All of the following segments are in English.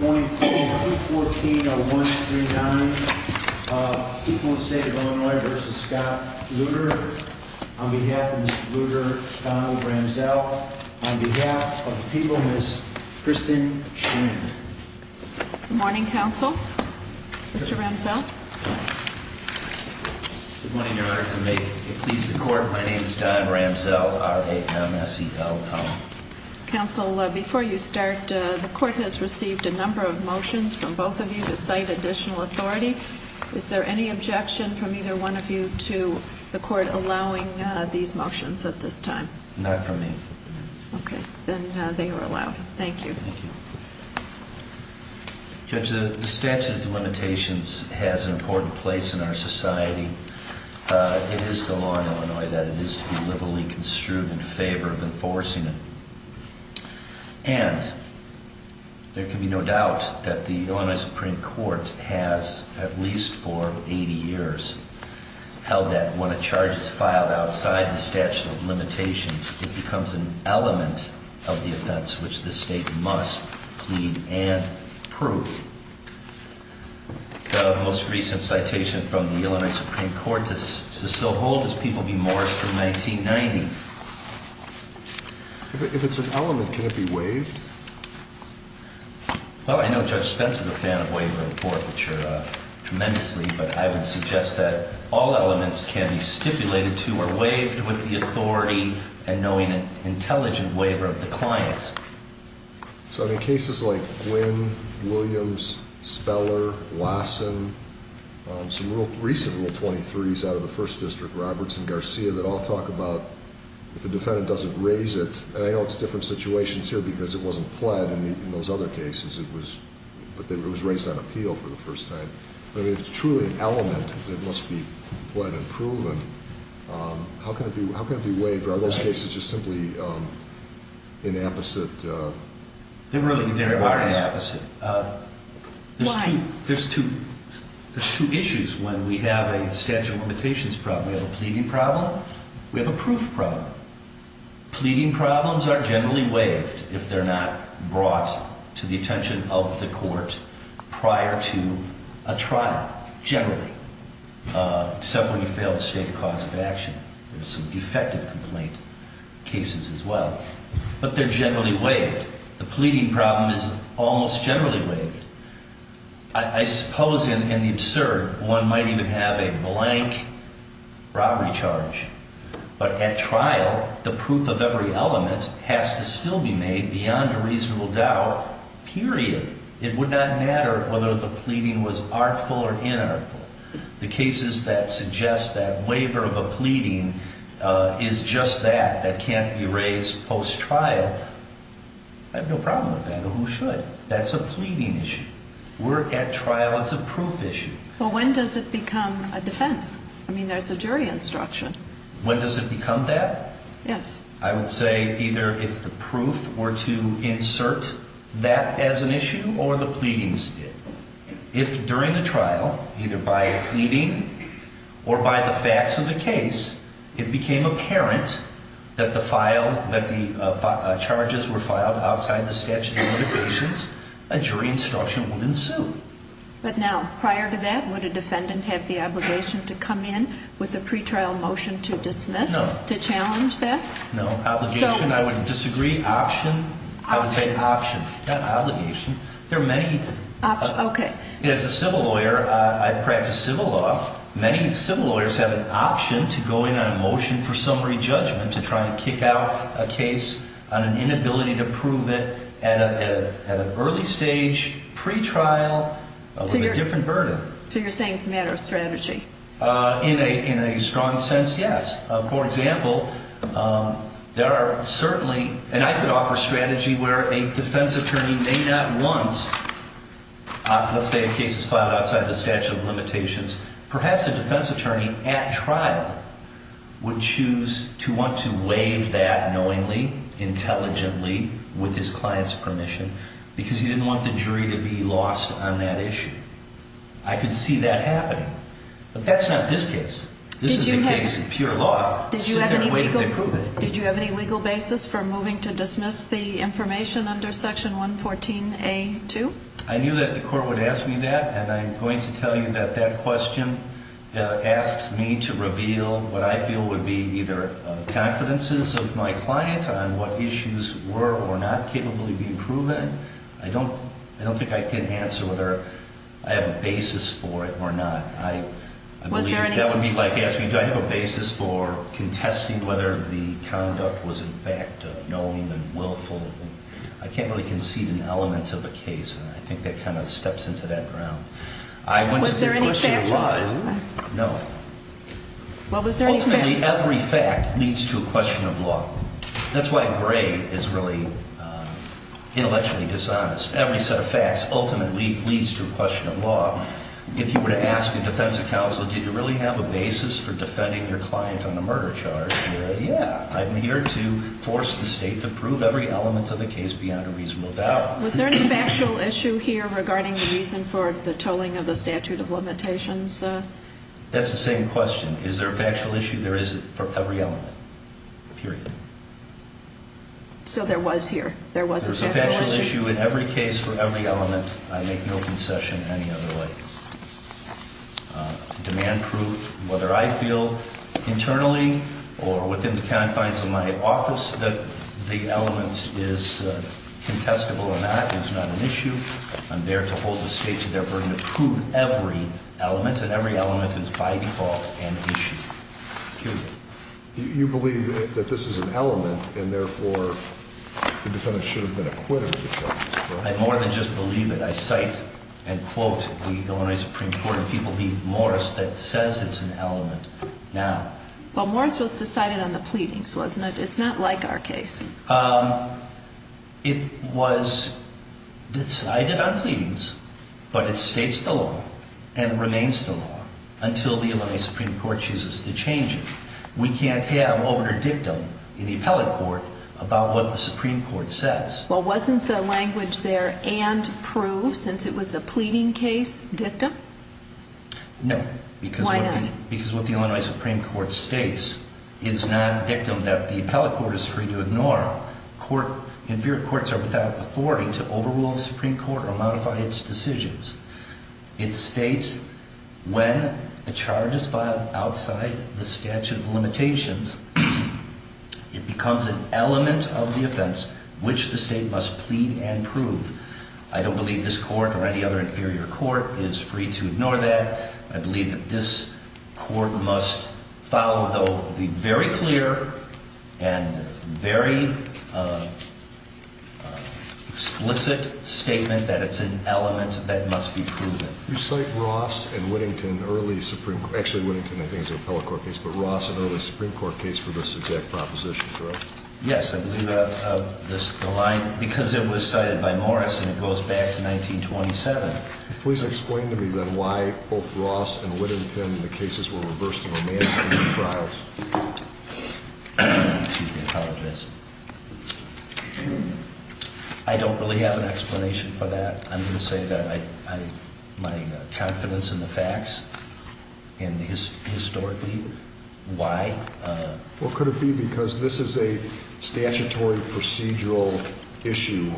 On behalf of the people of the state of Illinois v. Scott Lutter, on behalf of Mr. Lutter, Donald Ramsell, on behalf of the people, Ms. Kristen Schramm. Good morning, counsel. Mr. Ramsell. Good morning. In order to make it please the court, my name is Don Ramsell. R-A-M-S-E-L-L. Counsel, before you start, the court has received a number of motions from both of you to cite additional authority. Is there any objection from either one of you to the court allowing these motions at this time? Not from me. Okay. Then they are allowed. Thank you. Judge, the statute of limitations has an important place in our society. It is the law in Illinois that it is to be liberally construed in favor of enforcing it. And there can be no doubt that the Illinois Supreme Court has, at least for 80 years, held that when a charge is filed outside the statute of limitations, it becomes an element of the offense which the state must plead and prove. The most recent citation from the Illinois Supreme Court to Cecil Holt is People v. Morris from 1990. If it's an element, can it be waived? Well, I know Judge Spence is a fan of waiver and forfeiture tremendously, but I would suggest that all elements can be stipulated to or waived with the authority and knowing an intelligent waiver of the client. So in cases like Gwynn, Williams, Speller, Wasson, some recent Rule 23s out of the First District, Roberts and Garcia, that all talk about if a defendant doesn't raise it, and I know it's different situations here because it wasn't pled in those other cases, but it was raised on appeal for the first time. But if it's truly an element that must be pled and proven, how can it be waived? Are those cases just simply inapposite? They really are inapposite. Why? There's two issues when we have a statute of limitations problem. We have a pleading problem. We have a proof problem. Pleading problems are generally waived if they're not brought to the attention of the court prior to a trial, generally, except when you fail to state a cause of action. There are some defective complaint cases as well, but they're generally waived. The pleading problem is almost generally waived. I suppose in the absurd, one might even have a blank robbery charge. But at trial, the proof of every element has to still be made beyond a reasonable doubt, period. It would not matter whether the pleading was artful or inartful. The cases that suggest that waiver of a pleading is just that, that can't be raised post-trial, I have no problem with that. I don't know who should. That's a pleading issue. At trial, it's a proof issue. But when does it become a defense? I mean, there's a jury instruction. When does it become that? Yes. I would say either if the proof were to insert that as an issue or the pleadings did. If during the trial, either by a pleading or by the facts of the case, it became apparent that the charges were filed outside the statute of limitations, a jury instruction would ensue. But now, prior to that, would a defendant have the obligation to come in with a pretrial motion to dismiss, to challenge that? No, obligation, I would disagree. Option, I would say option. Not obligation. As a civil lawyer, I practice civil law. Many civil lawyers have an option to go in on a motion for summary judgment to try and kick out a case on an inability to prove it at an early stage, pretrial, with a different burden. So you're saying it's a matter of strategy? In a strong sense, yes. For example, there are certainly, and I could offer a strategy where a defense attorney may not want, let's say, a case is filed outside the statute of limitations. Perhaps a defense attorney at trial would choose to want to waive that knowingly, intelligently, with his client's permission because he didn't want the jury to be lost on that issue. I could see that happening. But that's not this case. This is a case of pure law. So they're waiting to prove it. Did you have any legal basis for moving to dismiss the information under section 114A2? I knew that the court would ask me that, and I'm going to tell you that that question asks me to reveal what I feel would be either confidences of my client on what issues were or not capably being proven. I don't think I can answer whether I have a basis for it or not. I believe that would be like asking, do I have a basis for contesting whether the conduct was in fact knowing and willful? I can't really concede an element of a case, and I think that kind of steps into that ground. Was there any factual? No. Ultimately, every fact leads to a question of law. That's why Gray is really intellectually dishonest. Every set of facts ultimately leads to a question of law. If you were to ask a defense counsel, did you really have a basis for defending your client on a murder charge? Yeah, I'm here to force the state to prove every element of the case beyond a reasonable doubt. Was there any factual issue here regarding the reason for the tolling of the statute of limitations? That's the same question. Is there a factual issue? There is for every element, period. So there was here. There was a factual issue. There was a factual issue in every case for every element. I make no concession in any other way. Demand proof, whether I feel internally or within the confines of my office that the element is contestable or not is not an issue. I'm there to hold the state to their burden to prove every element, and every element is by default an issue. You believe that this is an element, and therefore, the defendant should have been acquitted. I more than just believe it. I cite and quote the Illinois Supreme Court and people, being Morris, that says it's an element now. Well, Morris was decided on the pleadings, wasn't it? It's not like our case. It was decided on pleadings, but it states the law and remains the law until the Illinois Supreme Court chooses to change it. We can't have opener dictum in the appellate court about what the Supreme Court says. Well, wasn't the language there and proof, since it was a pleading case, dictum? No. Why not? Because what the Illinois Supreme Court states is non-dictum that the appellate court is free to ignore. Inferior courts are without authority to overrule the Supreme Court or modify its decisions. It states when a charge is filed outside the statute of limitations, it becomes an element of the offense which the state must plead and prove. I don't believe this court or any other inferior court is free to ignore that. I believe that this court must follow the very clear and very explicit statement that it's an element that must be proven. You cite Ross and Whittington, early Supreme, actually Whittington I think is an appellate court case, but Ross an early Supreme Court case for this exact proposition, correct? Yes, I believe the line, because it was cited by Morris and it goes back to 1927. Please explain to me then why both Ross and Whittington, the cases were reversed in the trials. Excuse me, I apologize. I don't really have an explanation for that. I'm going to say that my confidence in the facts and historically, why? Well, could it be because this is a statutory procedural issue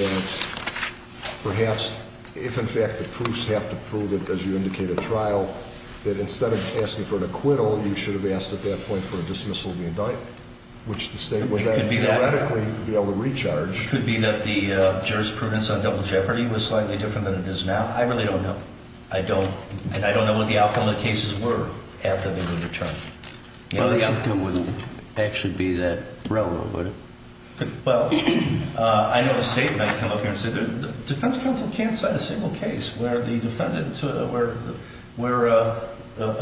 that perhaps if in fact the proofs have to prove it as you indicate a trial, that instead of asking for an acquittal, you should have asked at that point for a dismissal of the indictment, which the state would then theoretically be able to recharge. It could be that the jurisprudence on double jeopardy was slightly different than it is now. I really don't know. I don't, and I don't know what the outcome of the cases were after they were returned. Well, the outcome wouldn't actually be that relevant, would it? Well, I know the state might come up here and say the defense counsel can't cite a single case where the defendant, where a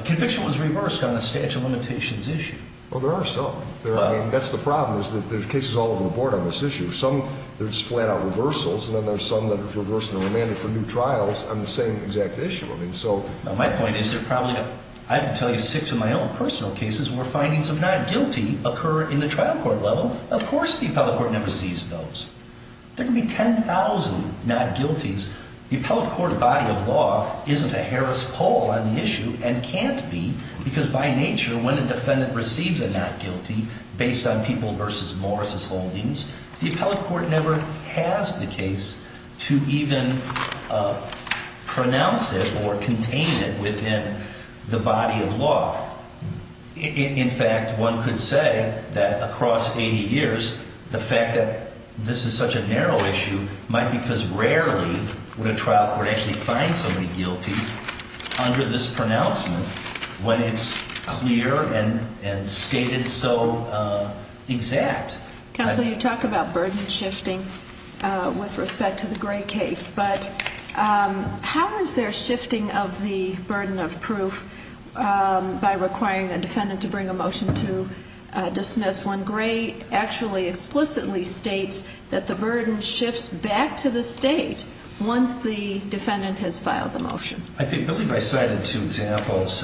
conviction was reversed on a statute of limitations issue. Well, there are some. I mean, that's the problem is that there's cases all over the board on this issue. Some, there's flat out reversals, and then there's some that are reversed and remanded for new trials on the same exact issue. I mean, so. My point is there probably, I can tell you six of my own personal cases where findings of not guilty occur in the trial court level. Of course the appellate court never sees those. There can be 10,000 not guilties. The appellate court body of law isn't a Harris poll on the issue and can't be because by nature when a defendant receives a not guilty based on people versus Morris' holdings, the appellate court never has the case to even pronounce it or contain it within the body of law. In fact, one could say that across 80 years, the fact that this is such a narrow issue might be because rarely would a trial court actually find somebody guilty under this pronouncement when it's clear and stated so exact. Counsel, you talk about burden shifting with respect to the Gray case, but how is there shifting of the burden of proof by requiring a defendant to bring a motion to dismiss when Gray actually explicitly states that the burden shifts back to the state once the defendant has filed the motion? I believe I cited two examples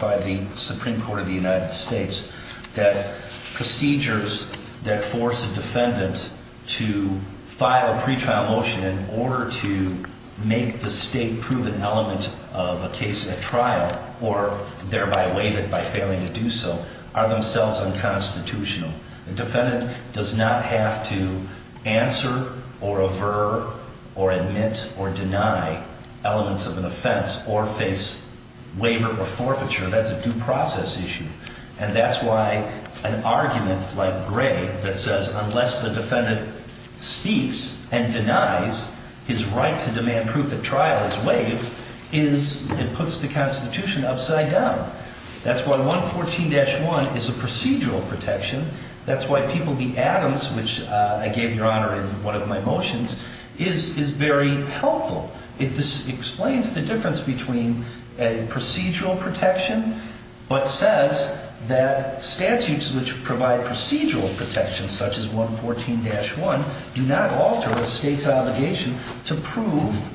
by the Supreme Court of the United States that procedures that force a defendant to file a pretrial motion in order to make the state prove an element of a case at trial or thereby waive it by failing to do so are themselves unconstitutional. The defendant does not have to answer or aver or admit or deny elements of an offense or face waiver or forfeiture. That's a due process issue. And that's why an argument like Gray that says unless the defendant speaks and denies his right to demand proof at trial is waived, it puts the Constitution upside down. That's why 114-1 is a procedural protection. That's why people be Adams, which I gave your honor in one of my motions, is very helpful. It explains the difference between a procedural protection but says that statutes which provide procedural protections such as 114-1 do not alter a state's obligation to prove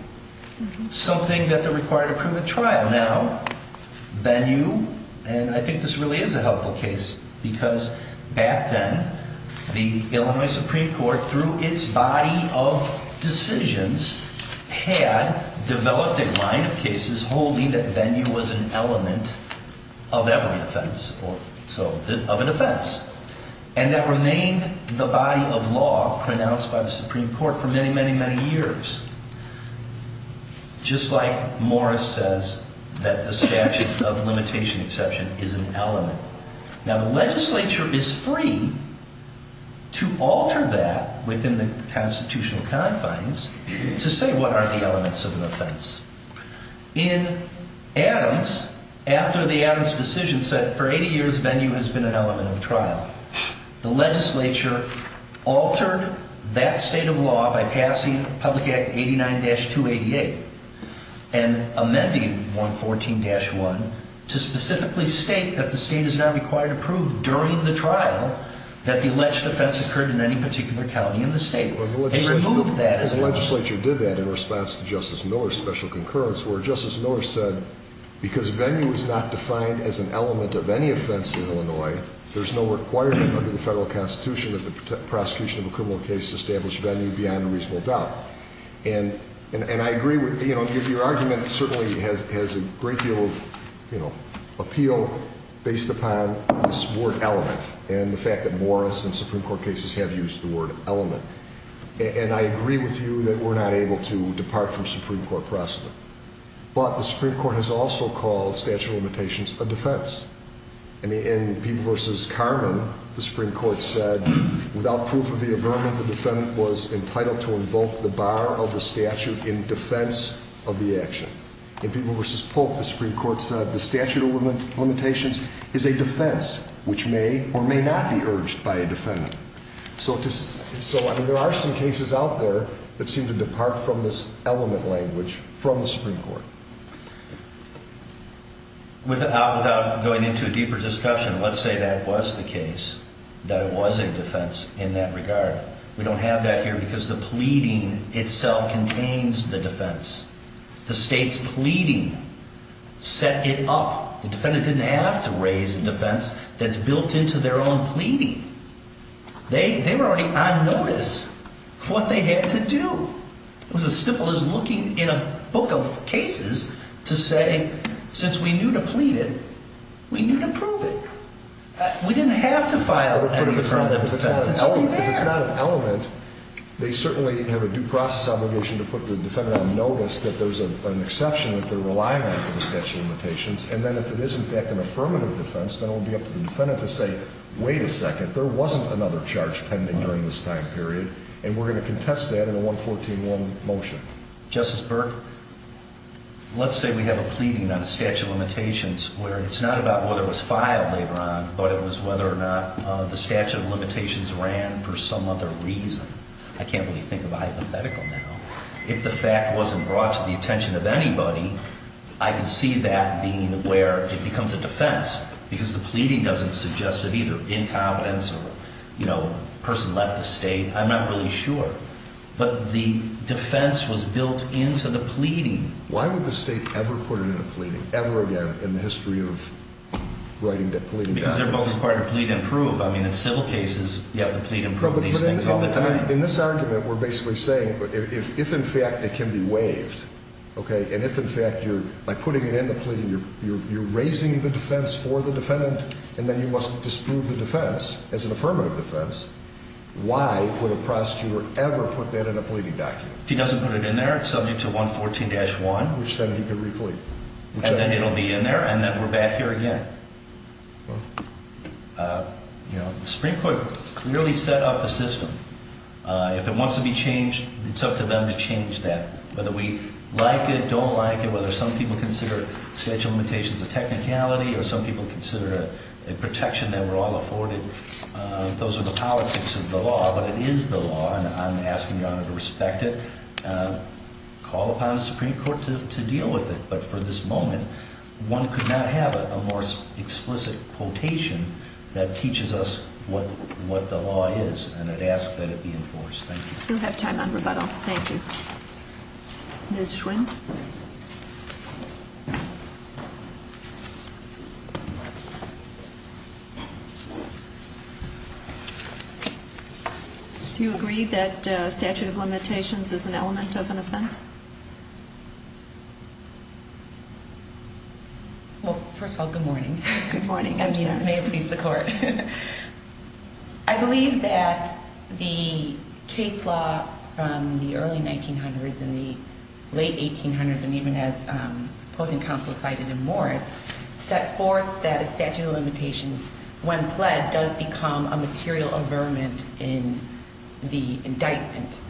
something that they're required to prove at trial. Now, Bennu, and I think this really is a helpful case because back then the Illinois Supreme Court through its body of decisions had developed a line of cases holding that Bennu was an element of every offense or so of an offense. And that remained the body of law pronounced by the Supreme Court for many, many, many years. Just like Morris says that the statute of limitation exception is an element. Now, the legislature is free to alter that within the constitutional confines to say what are the elements of an offense. In Adams, after the Adams decision said for 80 years Bennu has been an element of trial. The legislature altered that state of law by passing Public Act 89-288 and amending 114-1 to specifically state that the state is now required to prove during the trial that the alleged offense occurred in any particular county in the state. The legislature did that in response to Justice Miller's special concurrence where Justice Miller said because Bennu is not defined as an element of any offense in Illinois, there's no requirement under the federal constitution that the prosecution of a criminal case establish Bennu beyond a reasonable doubt. And I agree with, your argument certainly has a great deal of appeal based upon this word element. And the fact that Morris and Supreme Court cases have used the word element. And I agree with you that we're not able to depart from Supreme Court precedent. But the Supreme Court has also called statute of limitations a defense. In Peeble v. Carman, the Supreme Court said without proof of the affirmative, the defendant was entitled to invoke the bar of the statute in defense of the action. In Peeble v. Polk, the Supreme Court said the statute of limitations is a defense which may or may not be urged by a defendant. So there are some cases out there that seem to depart from this element language from the Supreme Court. Without going into a deeper discussion, let's say that was the case, that it was a defense in that regard. We don't have that here because the pleading itself contains the defense. The state's pleading set it up. The defendant didn't have to raise a defense that's built into their own pleading. They were already on notice of what they had to do. It was as simple as looking in a book of cases to say since we knew to plead it, we knew to prove it. We didn't have to file an affirmative defense. It's already there. If it's not an element, they certainly have a due process obligation to put the defendant on notice that there's an exception that they're relying on for the statute of limitations. And then if it is, in fact, an affirmative defense, then it will be up to the defendant to say, wait a second, there wasn't another charge pending during this time period. And we're going to contest that in a 114-1 motion. Justice Burke, let's say we have a pleading on the statute of limitations where it's not about whether it was filed later on, but it was whether or not the statute of limitations ran for some other reason. I can't really think of a hypothetical now. If the fact wasn't brought to the attention of anybody, I can see that being where it becomes a defense because the pleading doesn't suggest that either incompetence or, you know, a person left the state. I'm not really sure. But the defense was built into the pleading. Why would the state ever put it in a pleading, ever again, in the history of writing that pleading document? Because they're both required to plead and prove. I mean, in civil cases, you have to plead and prove these things all the time. In this argument, we're basically saying if, in fact, it can be waived, okay, and if, in fact, by putting it in the pleading, you're raising the defense for the defendant, and then you must disprove the defense as an affirmative defense, why would a prosecutor ever put that in a pleading document? If he doesn't put it in there, it's subject to 114-1. Which then he can replete. And then it'll be in there, and then we're back here again. Well, you know, the Supreme Court clearly set up the system. If it wants to be changed, it's up to them to change that, whether we like it, don't like it, whether some people consider statute of limitations a technicality or some people consider it a protection that we're all afforded. Those are the politics of the law, but it is the law, and I'm asking Your Honor to respect it, call upon the Supreme Court to deal with it. But for this moment, one could not have a more explicit quotation that teaches us what the law is, and I'd ask that it be enforced. Thank you. We'll have time on rebuttal. Thank you. Ms. Schwint? Do you agree that statute of limitations is an element of an offense? Well, first of all, good morning. Good morning. I'm sorry. May it please the Court. I believe that the case law from the early 1900s and the late 1800s, and even as opposing counsel cited in Morris, set forth that a statute of limitations when pled does become a material averment in the indictment.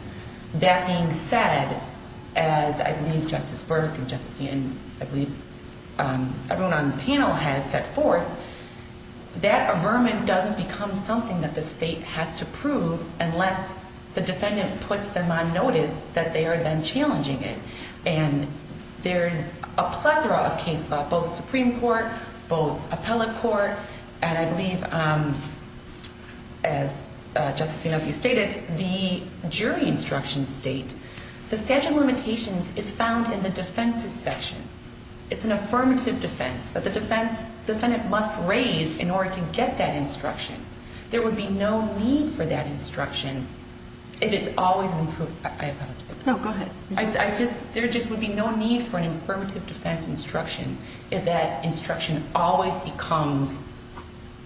That being said, as I believe Justice Burke and Justice Ian, I believe everyone on the panel has set forth, that averment doesn't become something that the state has to prove unless the defendant puts them on notice that they are then challenging it. And there's a plethora of case law, both Supreme Court, both appellate court, and I believe, as Justice Yanofsky stated, the jury instructions state, the statute of limitations is found in the defense's section. It's an affirmative defense that the defendant must raise in order to get that instruction. There would be no need for that instruction if it's always been proved. I apologize. No, go ahead. I just, there just would be no need for an affirmative defense instruction if that instruction always becomes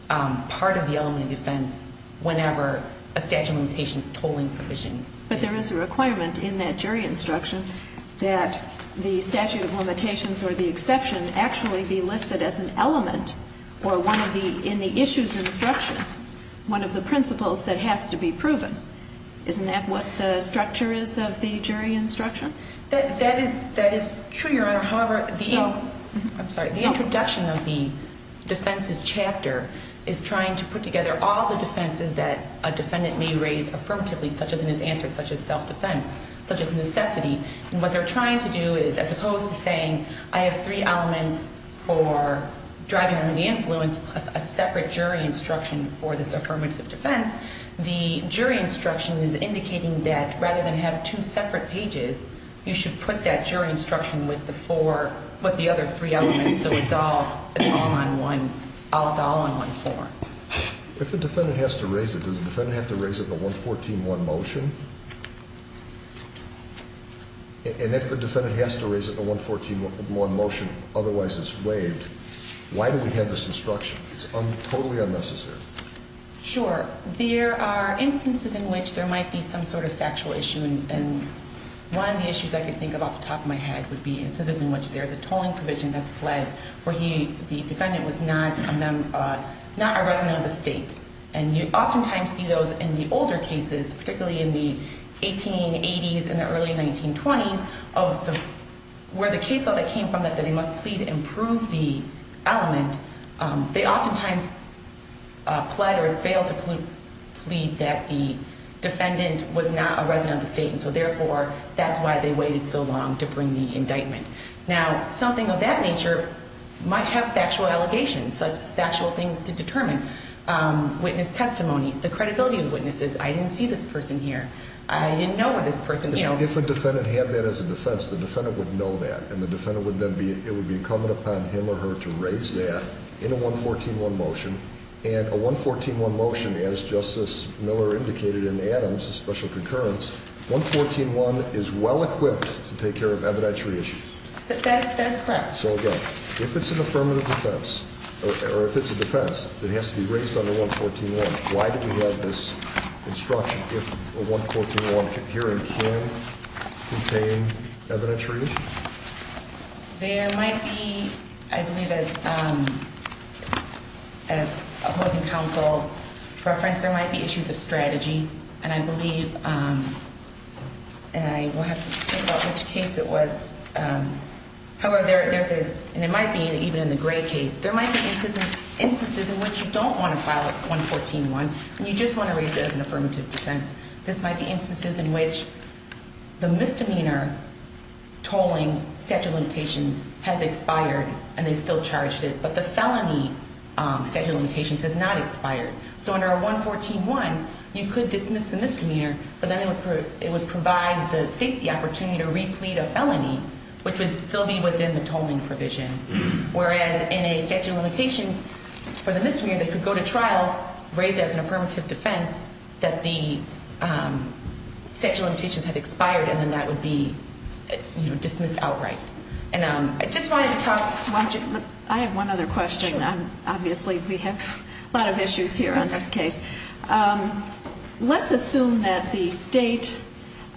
part of the element of defense whenever a statute of limitations tolling provision. But there is a requirement in that jury instruction that the statute of limitations or the exception actually be listed as an element or one of the, in the issue's instruction, one of the principles that has to be proven. Isn't that what the structure is of the jury instructions? That is true, Your Honor. However, the introduction of the defense's chapter is trying to put together all the defenses that a defendant may raise affirmatively, such as in his answer, such as self-defense, such as necessity. And what they're trying to do is, as opposed to saying, I have three elements for driving under the influence plus a separate jury instruction for this affirmative defense, the jury instruction is indicating that rather than have two separate pages, you should put that jury instruction with the four, with the other three elements so it's all, it's all on one, it's all on one floor. If a defendant has to raise it, does the defendant have to raise it in a 114-1 motion? And if the defendant has to raise it in a 114-1 motion, otherwise it's waived, why do we have this instruction? It's totally unnecessary. Sure. There are instances in which there might be some sort of factual issue, and one of the issues I can think of off the top of my head would be instances in which there is a tolling provision that's fled where the defendant was not a resident of the state. And you oftentimes see those in the older cases, particularly in the 1880s and the early 1920s, where the case law that came from that they must plead and prove the element, they oftentimes plead or fail to plead that the defendant was not a resident of the state and so therefore that's why they waited so long to bring the indictment. Now, something of that nature might have factual allegations, factual things to determine, witness testimony, the credibility of the witnesses, I didn't see this person here, I didn't know where this person, you know. If a defendant had that as a defense, the defendant would know that and the defendant would then be, it would be incumbent upon him or her to raise that in a 114-1 motion. And a 114-1 motion, as Justice Miller indicated in Adams, a special concurrence, 114-1 is well equipped to take care of evidentiary issues. That's correct. So again, if it's an affirmative defense, or if it's a defense that has to be raised under 114-1, why do we have this instruction if a 114-1 hearing can contain evidentiary issues? There might be, I believe, as opposing counsel referenced, there might be issues of strategy and I believe, and I will have to think about which case it was, however, there's a, and it might be even in the Gray case, there might be instances in which you don't want to file a 114-1 and you just want to raise it as an affirmative defense. This might be instances in which the misdemeanor tolling statute of limitations has expired and they still charged it, but the felony statute of limitations has not expired. So under a 114-1, you could dismiss the misdemeanor, but then it would provide the state the opportunity to replete a felony, which would still be within the tolling provision. Whereas in a statute of limitations for the misdemeanor, they could go to trial, raise it as an affirmative defense that the statute of limitations had expired and then that would be dismissed outright. And I just wanted to talk. I have one other question. Obviously, we have a lot of issues here on this case. Let's assume that the state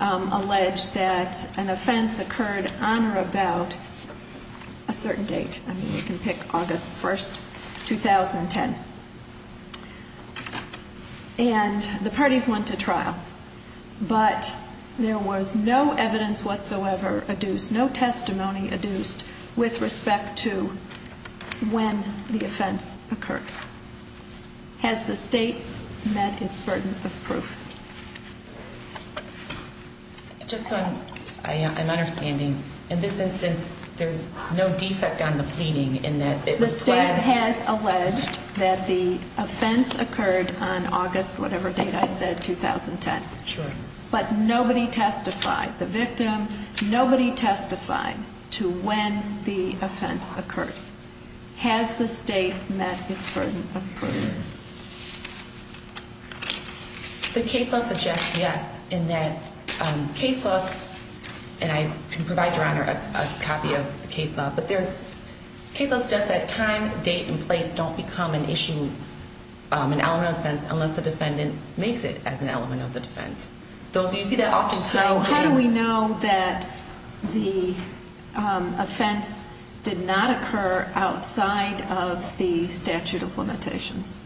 alleged that an offense occurred on or about a certain date. I mean, we can pick August 1st, 2010. And the parties went to trial, but there was no evidence whatsoever adduced, no testimony adduced with respect to when the offense occurred. Has the state met its burden of proof? Just so I'm understanding, in this instance, there's no defect on the pleading in that it was pled? The state has alleged that the offense occurred on August whatever date I said, 2010. Sure. But nobody testified, the victim, nobody testified to when the offense occurred. Has the state met its burden of proof? The case law suggests yes, in that case laws, and I can provide Your Honor a copy of the case law. But case law says that time, date, and place don't become an issue, an element of offense, unless the defendant makes it as an element of the defense. Do you see that often? So how do we know that the offense did not occur outside of the statute of limitations?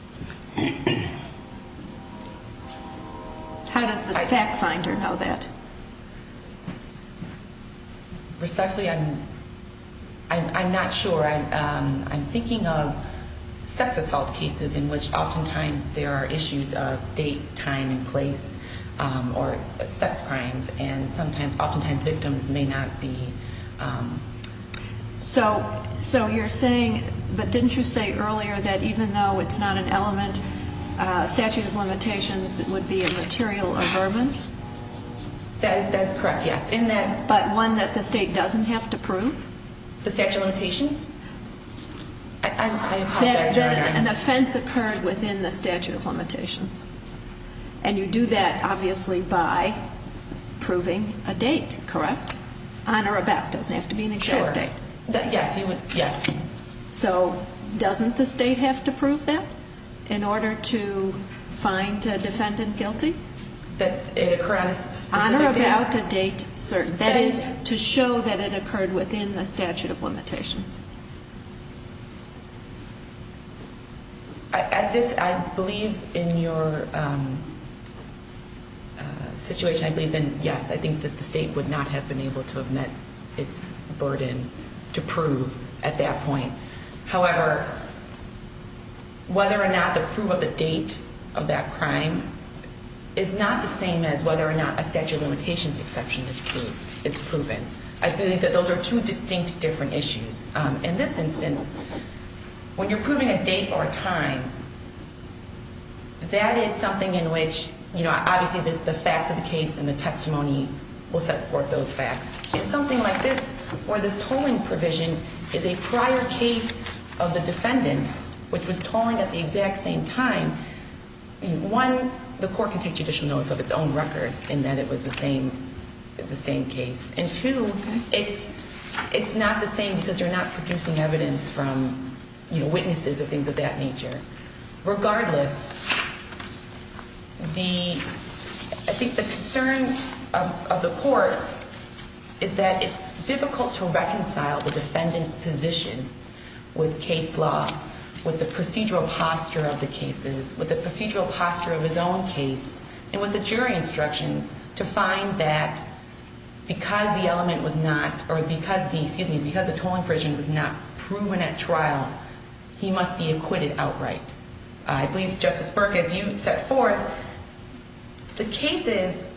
How does the fact finder know that? Respectfully, I'm not sure. I'm thinking of sex assault cases in which oftentimes there are issues of date, time, and place, or sex crimes, and oftentimes victims may not be. So you're saying, but didn't you say earlier that even though it's not an element, statute of limitations would be a material averment? That's correct, yes. But one that the state doesn't have to prove? The statute of limitations? I apologize, Your Honor. That an offense occurred within the statute of limitations, and you do that obviously by proving a date, correct? On or about, doesn't have to be an exact date. Sure. Yes, you would, yes. So doesn't the state have to prove that in order to find a defendant guilty? That it occurred on a specific date? On or about a date, certain. That is, to show that it occurred within the statute of limitations. I believe in your situation, I believe then, yes, I think that the state would not have been able to have met its burden to prove at that point. However, whether or not the proof of the date of that crime is not the same as whether or not a statute of limitations exception is proven. I believe that those are two distinct different issues. In this instance, when you're proving a date or a time, that is something in which, you know, obviously the facts of the case and the testimony will support those facts. In something like this, where this tolling provision is a prior case of the defendant, which was tolling at the exact same time, one, the court can take judicial notice of its own record in that it was the same case. And two, it's not the same because you're not producing evidence from, you know, witnesses or things of that nature. Regardless, I think the concern of the court is that it's difficult to reconcile the defendant's position with case law, with the procedural posture of the cases, with the procedural posture of his own case, and with the jury instructions to find that because the element was not, or because the, excuse me, because the tolling provision was not proven at trial, he must be acquitted outright. I believe, Justice Burke, as you set forth, the cases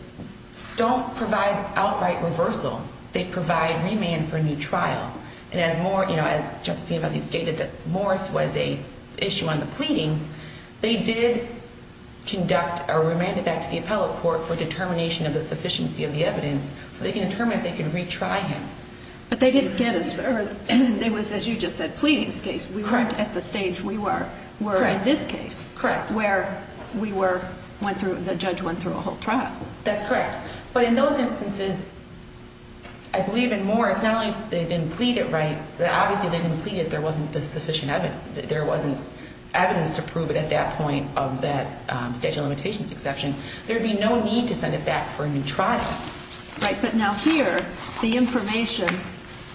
don't provide outright reversal. They provide remand for a new trial. And as more, you know, as Justice Giambazzi stated, that Morris was a issue on the pleadings, they did conduct a remanded back to the appellate court for determination of the sufficiency of the evidence so they can determine if they can retry him. But they didn't get a, or it was, as you just said, a pleadings case. Correct. We weren't at the stage we were in this case. Correct. Where we were, went through, the judge went through a whole trial. That's correct. But in those instances, I believe in Morris, not only they didn't plead it right, but obviously they didn't plead it, there wasn't the sufficient evidence. There wasn't evidence to prove it at that point of that statute of limitations exception. There would be no need to send it back for a new trial. Right, but now here, the information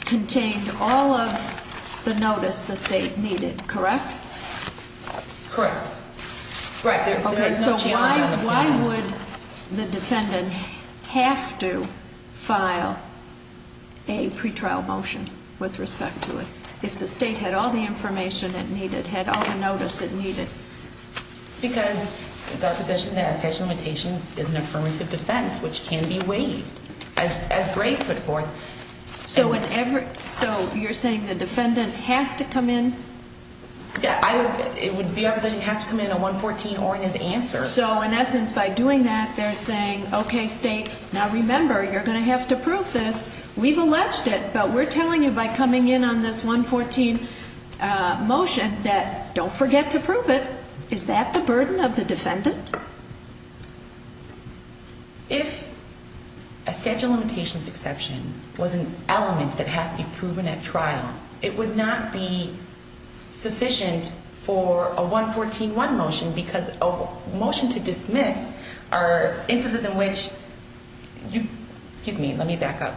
contained all of the notice the state needed, correct? Correct. Okay, so why would the defendant have to file a pretrial motion with respect to it, if the state had all the information it needed, had all the notice it needed? Because it's our position that a statute of limitations is an affirmative defense, which can be waived, as Gray put forth. So you're saying the defendant has to come in? Yeah, it would be our position he has to come in on 114 or in his answer. So in essence, by doing that, they're saying, okay, state, now remember, you're going to have to prove this. We've alleged it, but we're telling you by coming in on this 114 motion that don't forget to prove it. Is that the burden of the defendant? If a statute of limitations exception was an element that has to be proven at trial, it would not be sufficient for a 114-1 motion, because a motion to dismiss are instances in which you, excuse me, let me back up.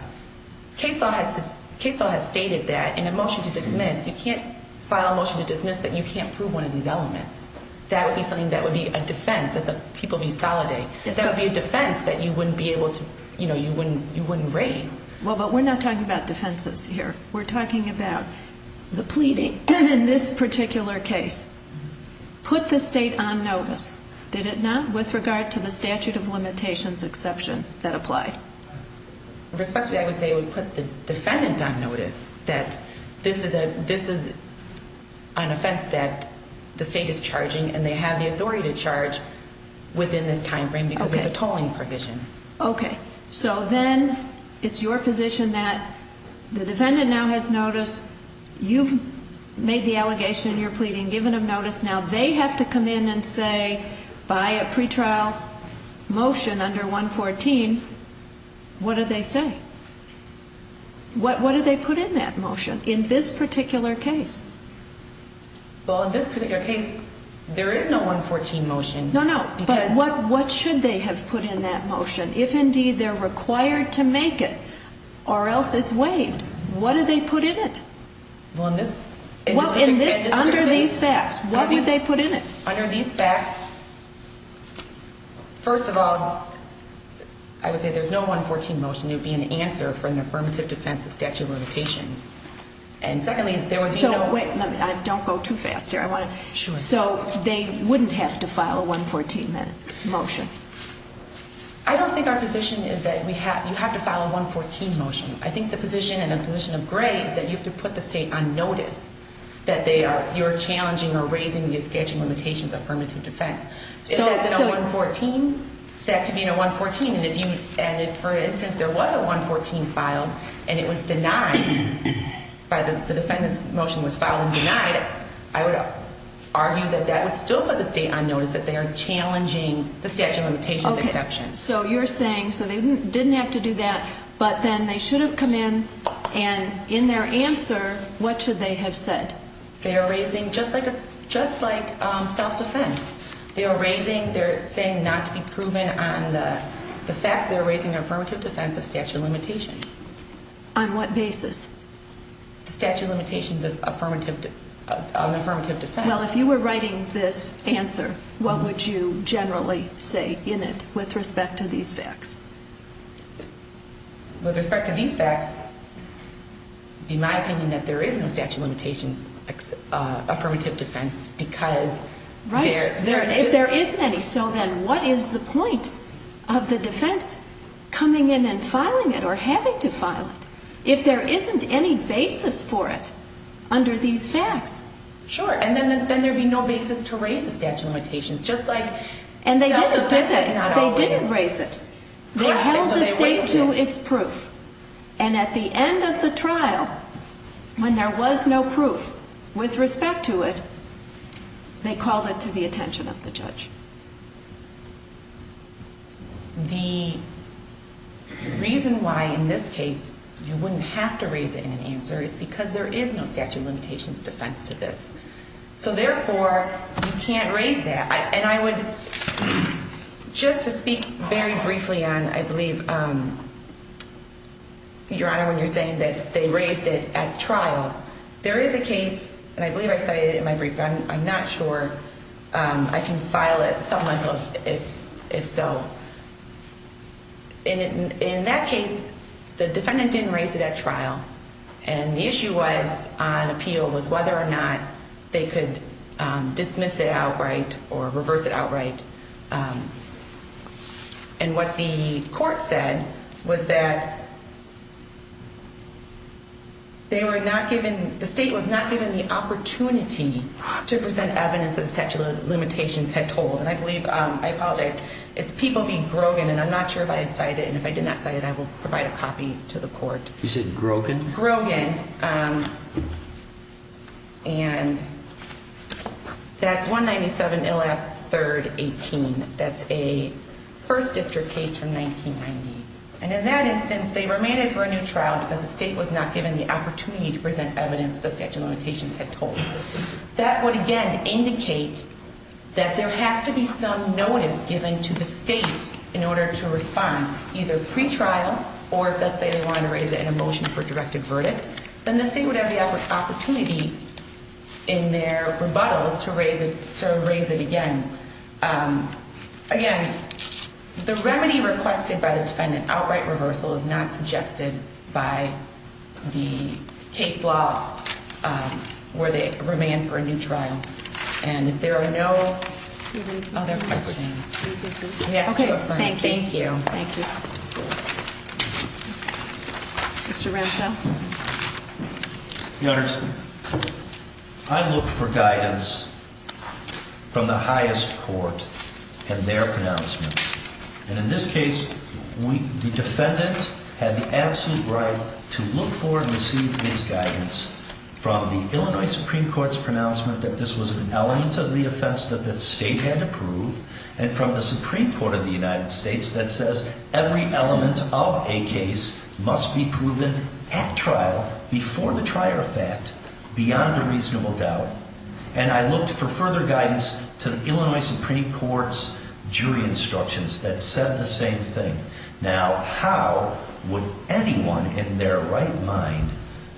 Case law has stated that in a motion to dismiss, you can't file a motion to dismiss that you can't prove one of these elements. That would be something that would be a defense that people would be solidating. That would be a defense that you wouldn't be able to, you know, you wouldn't raise. Well, but we're not talking about defenses here. We're talking about the pleading in this particular case. Put the state on notice, did it not, with regard to the statute of limitations exception that applied? Respectfully, I would say we put the defendant on notice that this is an offense that the state is charging and they have the authority to charge within this time frame because it's a tolling provision. Okay. So then it's your position that the defendant now has notice. You've made the allegation in your pleading, given them notice. Now they have to come in and say by a pretrial motion under 114, what do they say? What do they put in that motion in this particular case? Well, in this particular case, there is no 114 motion. No, no. But what should they have put in that motion? If indeed they're required to make it or else it's waived, what do they put in it? Well, in this particular case. Under these facts, what would they put in it? Under these facts, first of all, I would say there's no 114 motion. It would be an answer for an affirmative defense of statute of limitations. And secondly, there would be no. So wait, don't go too fast here. Sure. So they wouldn't have to file a 114 motion? I don't think our position is that you have to file a 114 motion. I think the position and the position of Gray is that you have to put the state on notice that you're challenging or raising the statute of limitations affirmative defense. If that's in a 114, that could be in a 114. And if, for instance, there was a 114 filed and it was denied by the defendant's motion, was filed and denied, I would argue that that would still put the state on notice that they are challenging the statute of limitations exception. Okay. So you're saying, so they didn't have to do that, but then they should have come in and in their answer, what should they have said? They are raising, just like self-defense, they are raising, they're saying not to be proven on the facts, they're raising affirmative defense of statute of limitations. On what basis? The statute of limitations of affirmative defense. Well, if you were writing this answer, what would you generally say in it with respect to these facts? With respect to these facts, in my opinion, that there is no statute of limitations affirmative defense because there is. Right. If there isn't any, so then what is the point of the defense coming in and filing it or having to file it if there isn't any basis for it under these facts? Sure. And then there would be no basis to raise the statute of limitations, just like self-defense does not always. And they didn't do that. They didn't raise it. They held the state to its proof. And at the end of the trial, when there was no proof with respect to it, they called it to the attention of the judge. The reason why, in this case, you wouldn't have to raise it in an answer is because there is no statute of limitations defense to this. So therefore, you can't raise that. And I would, just to speak very briefly on, I believe, Your Honor, when you're saying that they raised it at trial, there is a case, and I believe I cited it in my brief, but I'm not sure I can file it supplemental if so. In that case, the defendant didn't raise it at trial. And the issue was, on appeal, was whether or not they could dismiss it outright or reverse it outright. And what the court said was that they were not given, the state was not given the opportunity to present evidence of the statute of limitations had told. And I believe, I apologize, it's People v. Grogan, and I'm not sure if I had cited it. And if I did not cite it, I will provide a copy to the court. You said Grogan? Grogan. And that's 197 Illap 3rd 18. That's a first district case from 1990. And in that instance, they were made it for a new trial because the state was not given the opportunity to present evidence the statute of limitations had told. That would, again, indicate that there has to be some notice given to the state in order to respond, either pre-trial or if, let's say, they wanted to raise it in a motion for direct averted, then the state would have the opportunity in their rebuttal to raise it again. Again, the remedy requested by the defendant, outright reversal, is not suggested by the case law where they remain for a new trial. And if there are no other questions. Okay. Thank you. Thank you. Mr. Ramchow. Your Honor, I look for guidance from the highest court in their pronouncements. And in this case, the defendant had the absolute right to look for and receive this guidance from the Illinois Supreme Court's pronouncement that this was an element of the offense that the state had to prove and from the Supreme Court of the United States that says every element of a case must be proven at trial, before the trial of fact, beyond a reasonable doubt. And I looked for further guidance to the Illinois Supreme Court's jury instructions that said the same thing. Now, how would anyone in their right mind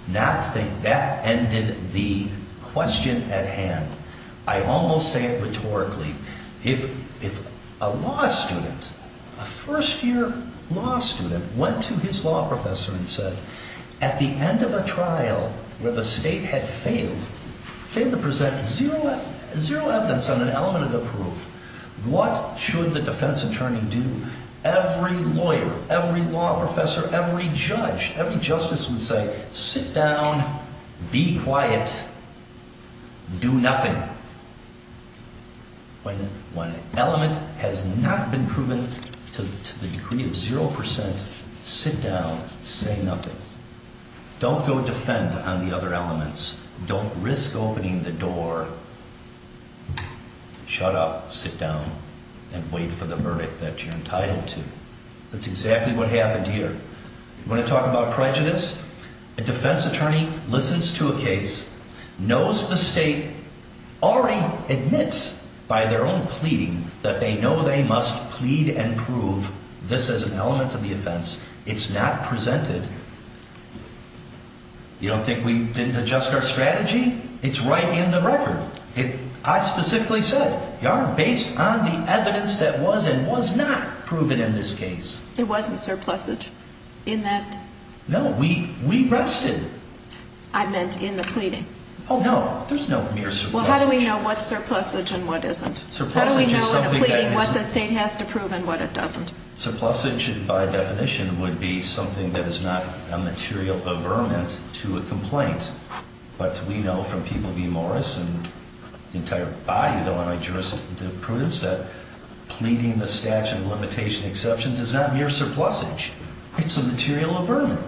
not think that ended the question at hand? I almost say it rhetorically. If a law student, a first-year law student, went to his law professor and said at the end of a trial where the state had failed, failed to present zero evidence on an element of the proof, what should the defense attorney do? Every lawyer, every law professor, every judge, every justice would say sit down, be quiet, do nothing. When an element has not been proven to the degree of zero percent, sit down, say nothing. Don't go defend on the other elements. Don't risk opening the door. Shut up, sit down, and wait for the verdict that you're entitled to. That's exactly what happened here. You want to talk about prejudice? A defense attorney listens to a case, knows the state, already admits by their own pleading that they know they must plead and prove this is an element of the offense. It's not presented. You don't think we didn't adjust our strategy? It's right in the record. I specifically said, Your Honor, based on the evidence that was and was not proven in this case. It wasn't surplusage in that? No, we rested. I meant in the pleading. Oh, no, there's no mere surplusage. Well, how do we know what's surplusage and what isn't? How do we know in a pleading what the state has to prove and what it doesn't? Surplusage, by definition, would be something that is not a material averment to a complaint. But we know from people like Morris and the entire body of the limitation exceptions is not mere surplusage. It's a material averment.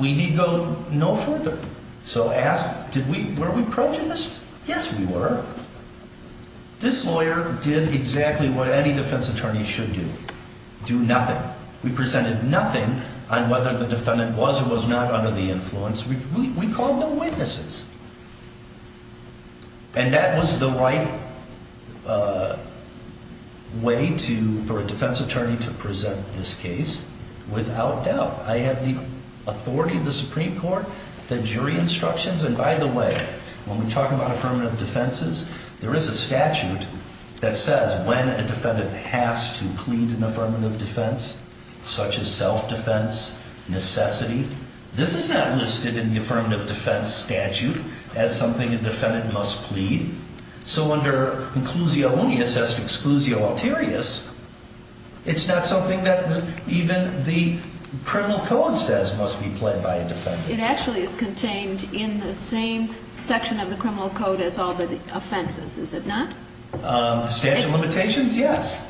We need go no further. So ask, were we prejudiced? Yes, we were. This lawyer did exactly what any defense attorney should do, do nothing. We presented nothing on whether the defendant was or was not under the influence. We called them witnesses. And that was the right way for a defense attorney to present this case. Without doubt. I have the authority of the Supreme Court, the jury instructions. And by the way, when we talk about affirmative defenses, there is a statute that says when a defendant has to plead an affirmative defense, such as self-defense, necessity, this is not listed in the affirmative defense statute. As something a defendant must plead. So under inclusio unius as exclusio alterius, it's not something that even the criminal code says must be pled by a defendant. It actually is contained in the same section of the criminal code as all the offenses, is it not? The statute of limitations, yes.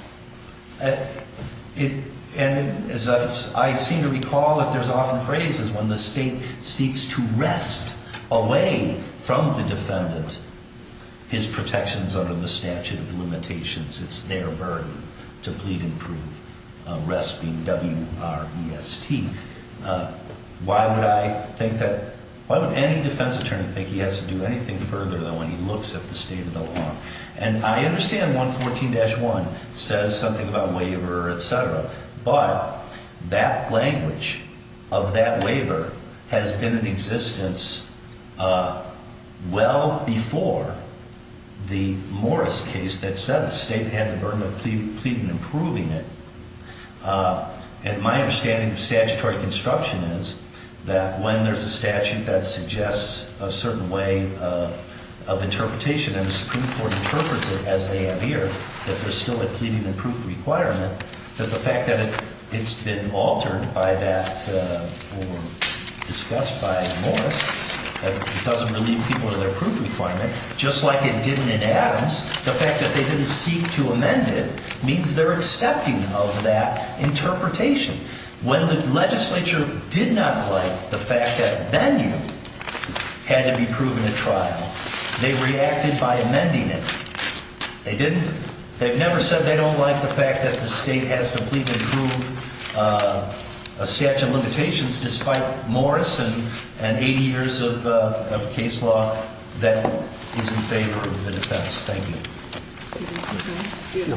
And as I seem to recall that there's often phrases when the state seeks to take away from the defendant his protections under the statute of limitations, it's their burden to plead and prove. W-R-E-S-T. Why would I think that, why would any defense attorney think he has to do anything further than when he looks at the state of the law? And I understand 114-1 says something about waiver, et cetera. But that language of that waiver has been in existence well before the Morris case that said the state had the burden of pleading and proving it. And my understanding of statutory construction is that when there's a statute that suggests a certain way of interpretation and the Supreme Court interprets it as they have here, that there's still a pleading and proof requirement, that the fact that it's been altered by that or discussed by Morris, that it doesn't relieve people of their proof requirement, just like it didn't in Adams, the fact that they didn't seek to amend it means they're accepting of that interpretation. When the legislature did not like the fact that venue had to be proven at trial, they reacted by amending it. They didn't. They've never said they don't like the fact that the state has to plead and prove a statute of limitations despite Morris and 80 years of case law that is in favor of the defense. Thank you.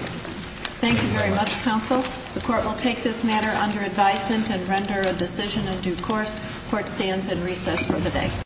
Thank you very much, counsel. The court will take this matter under advisement and render a decision in due course. Court stands in recess for the day.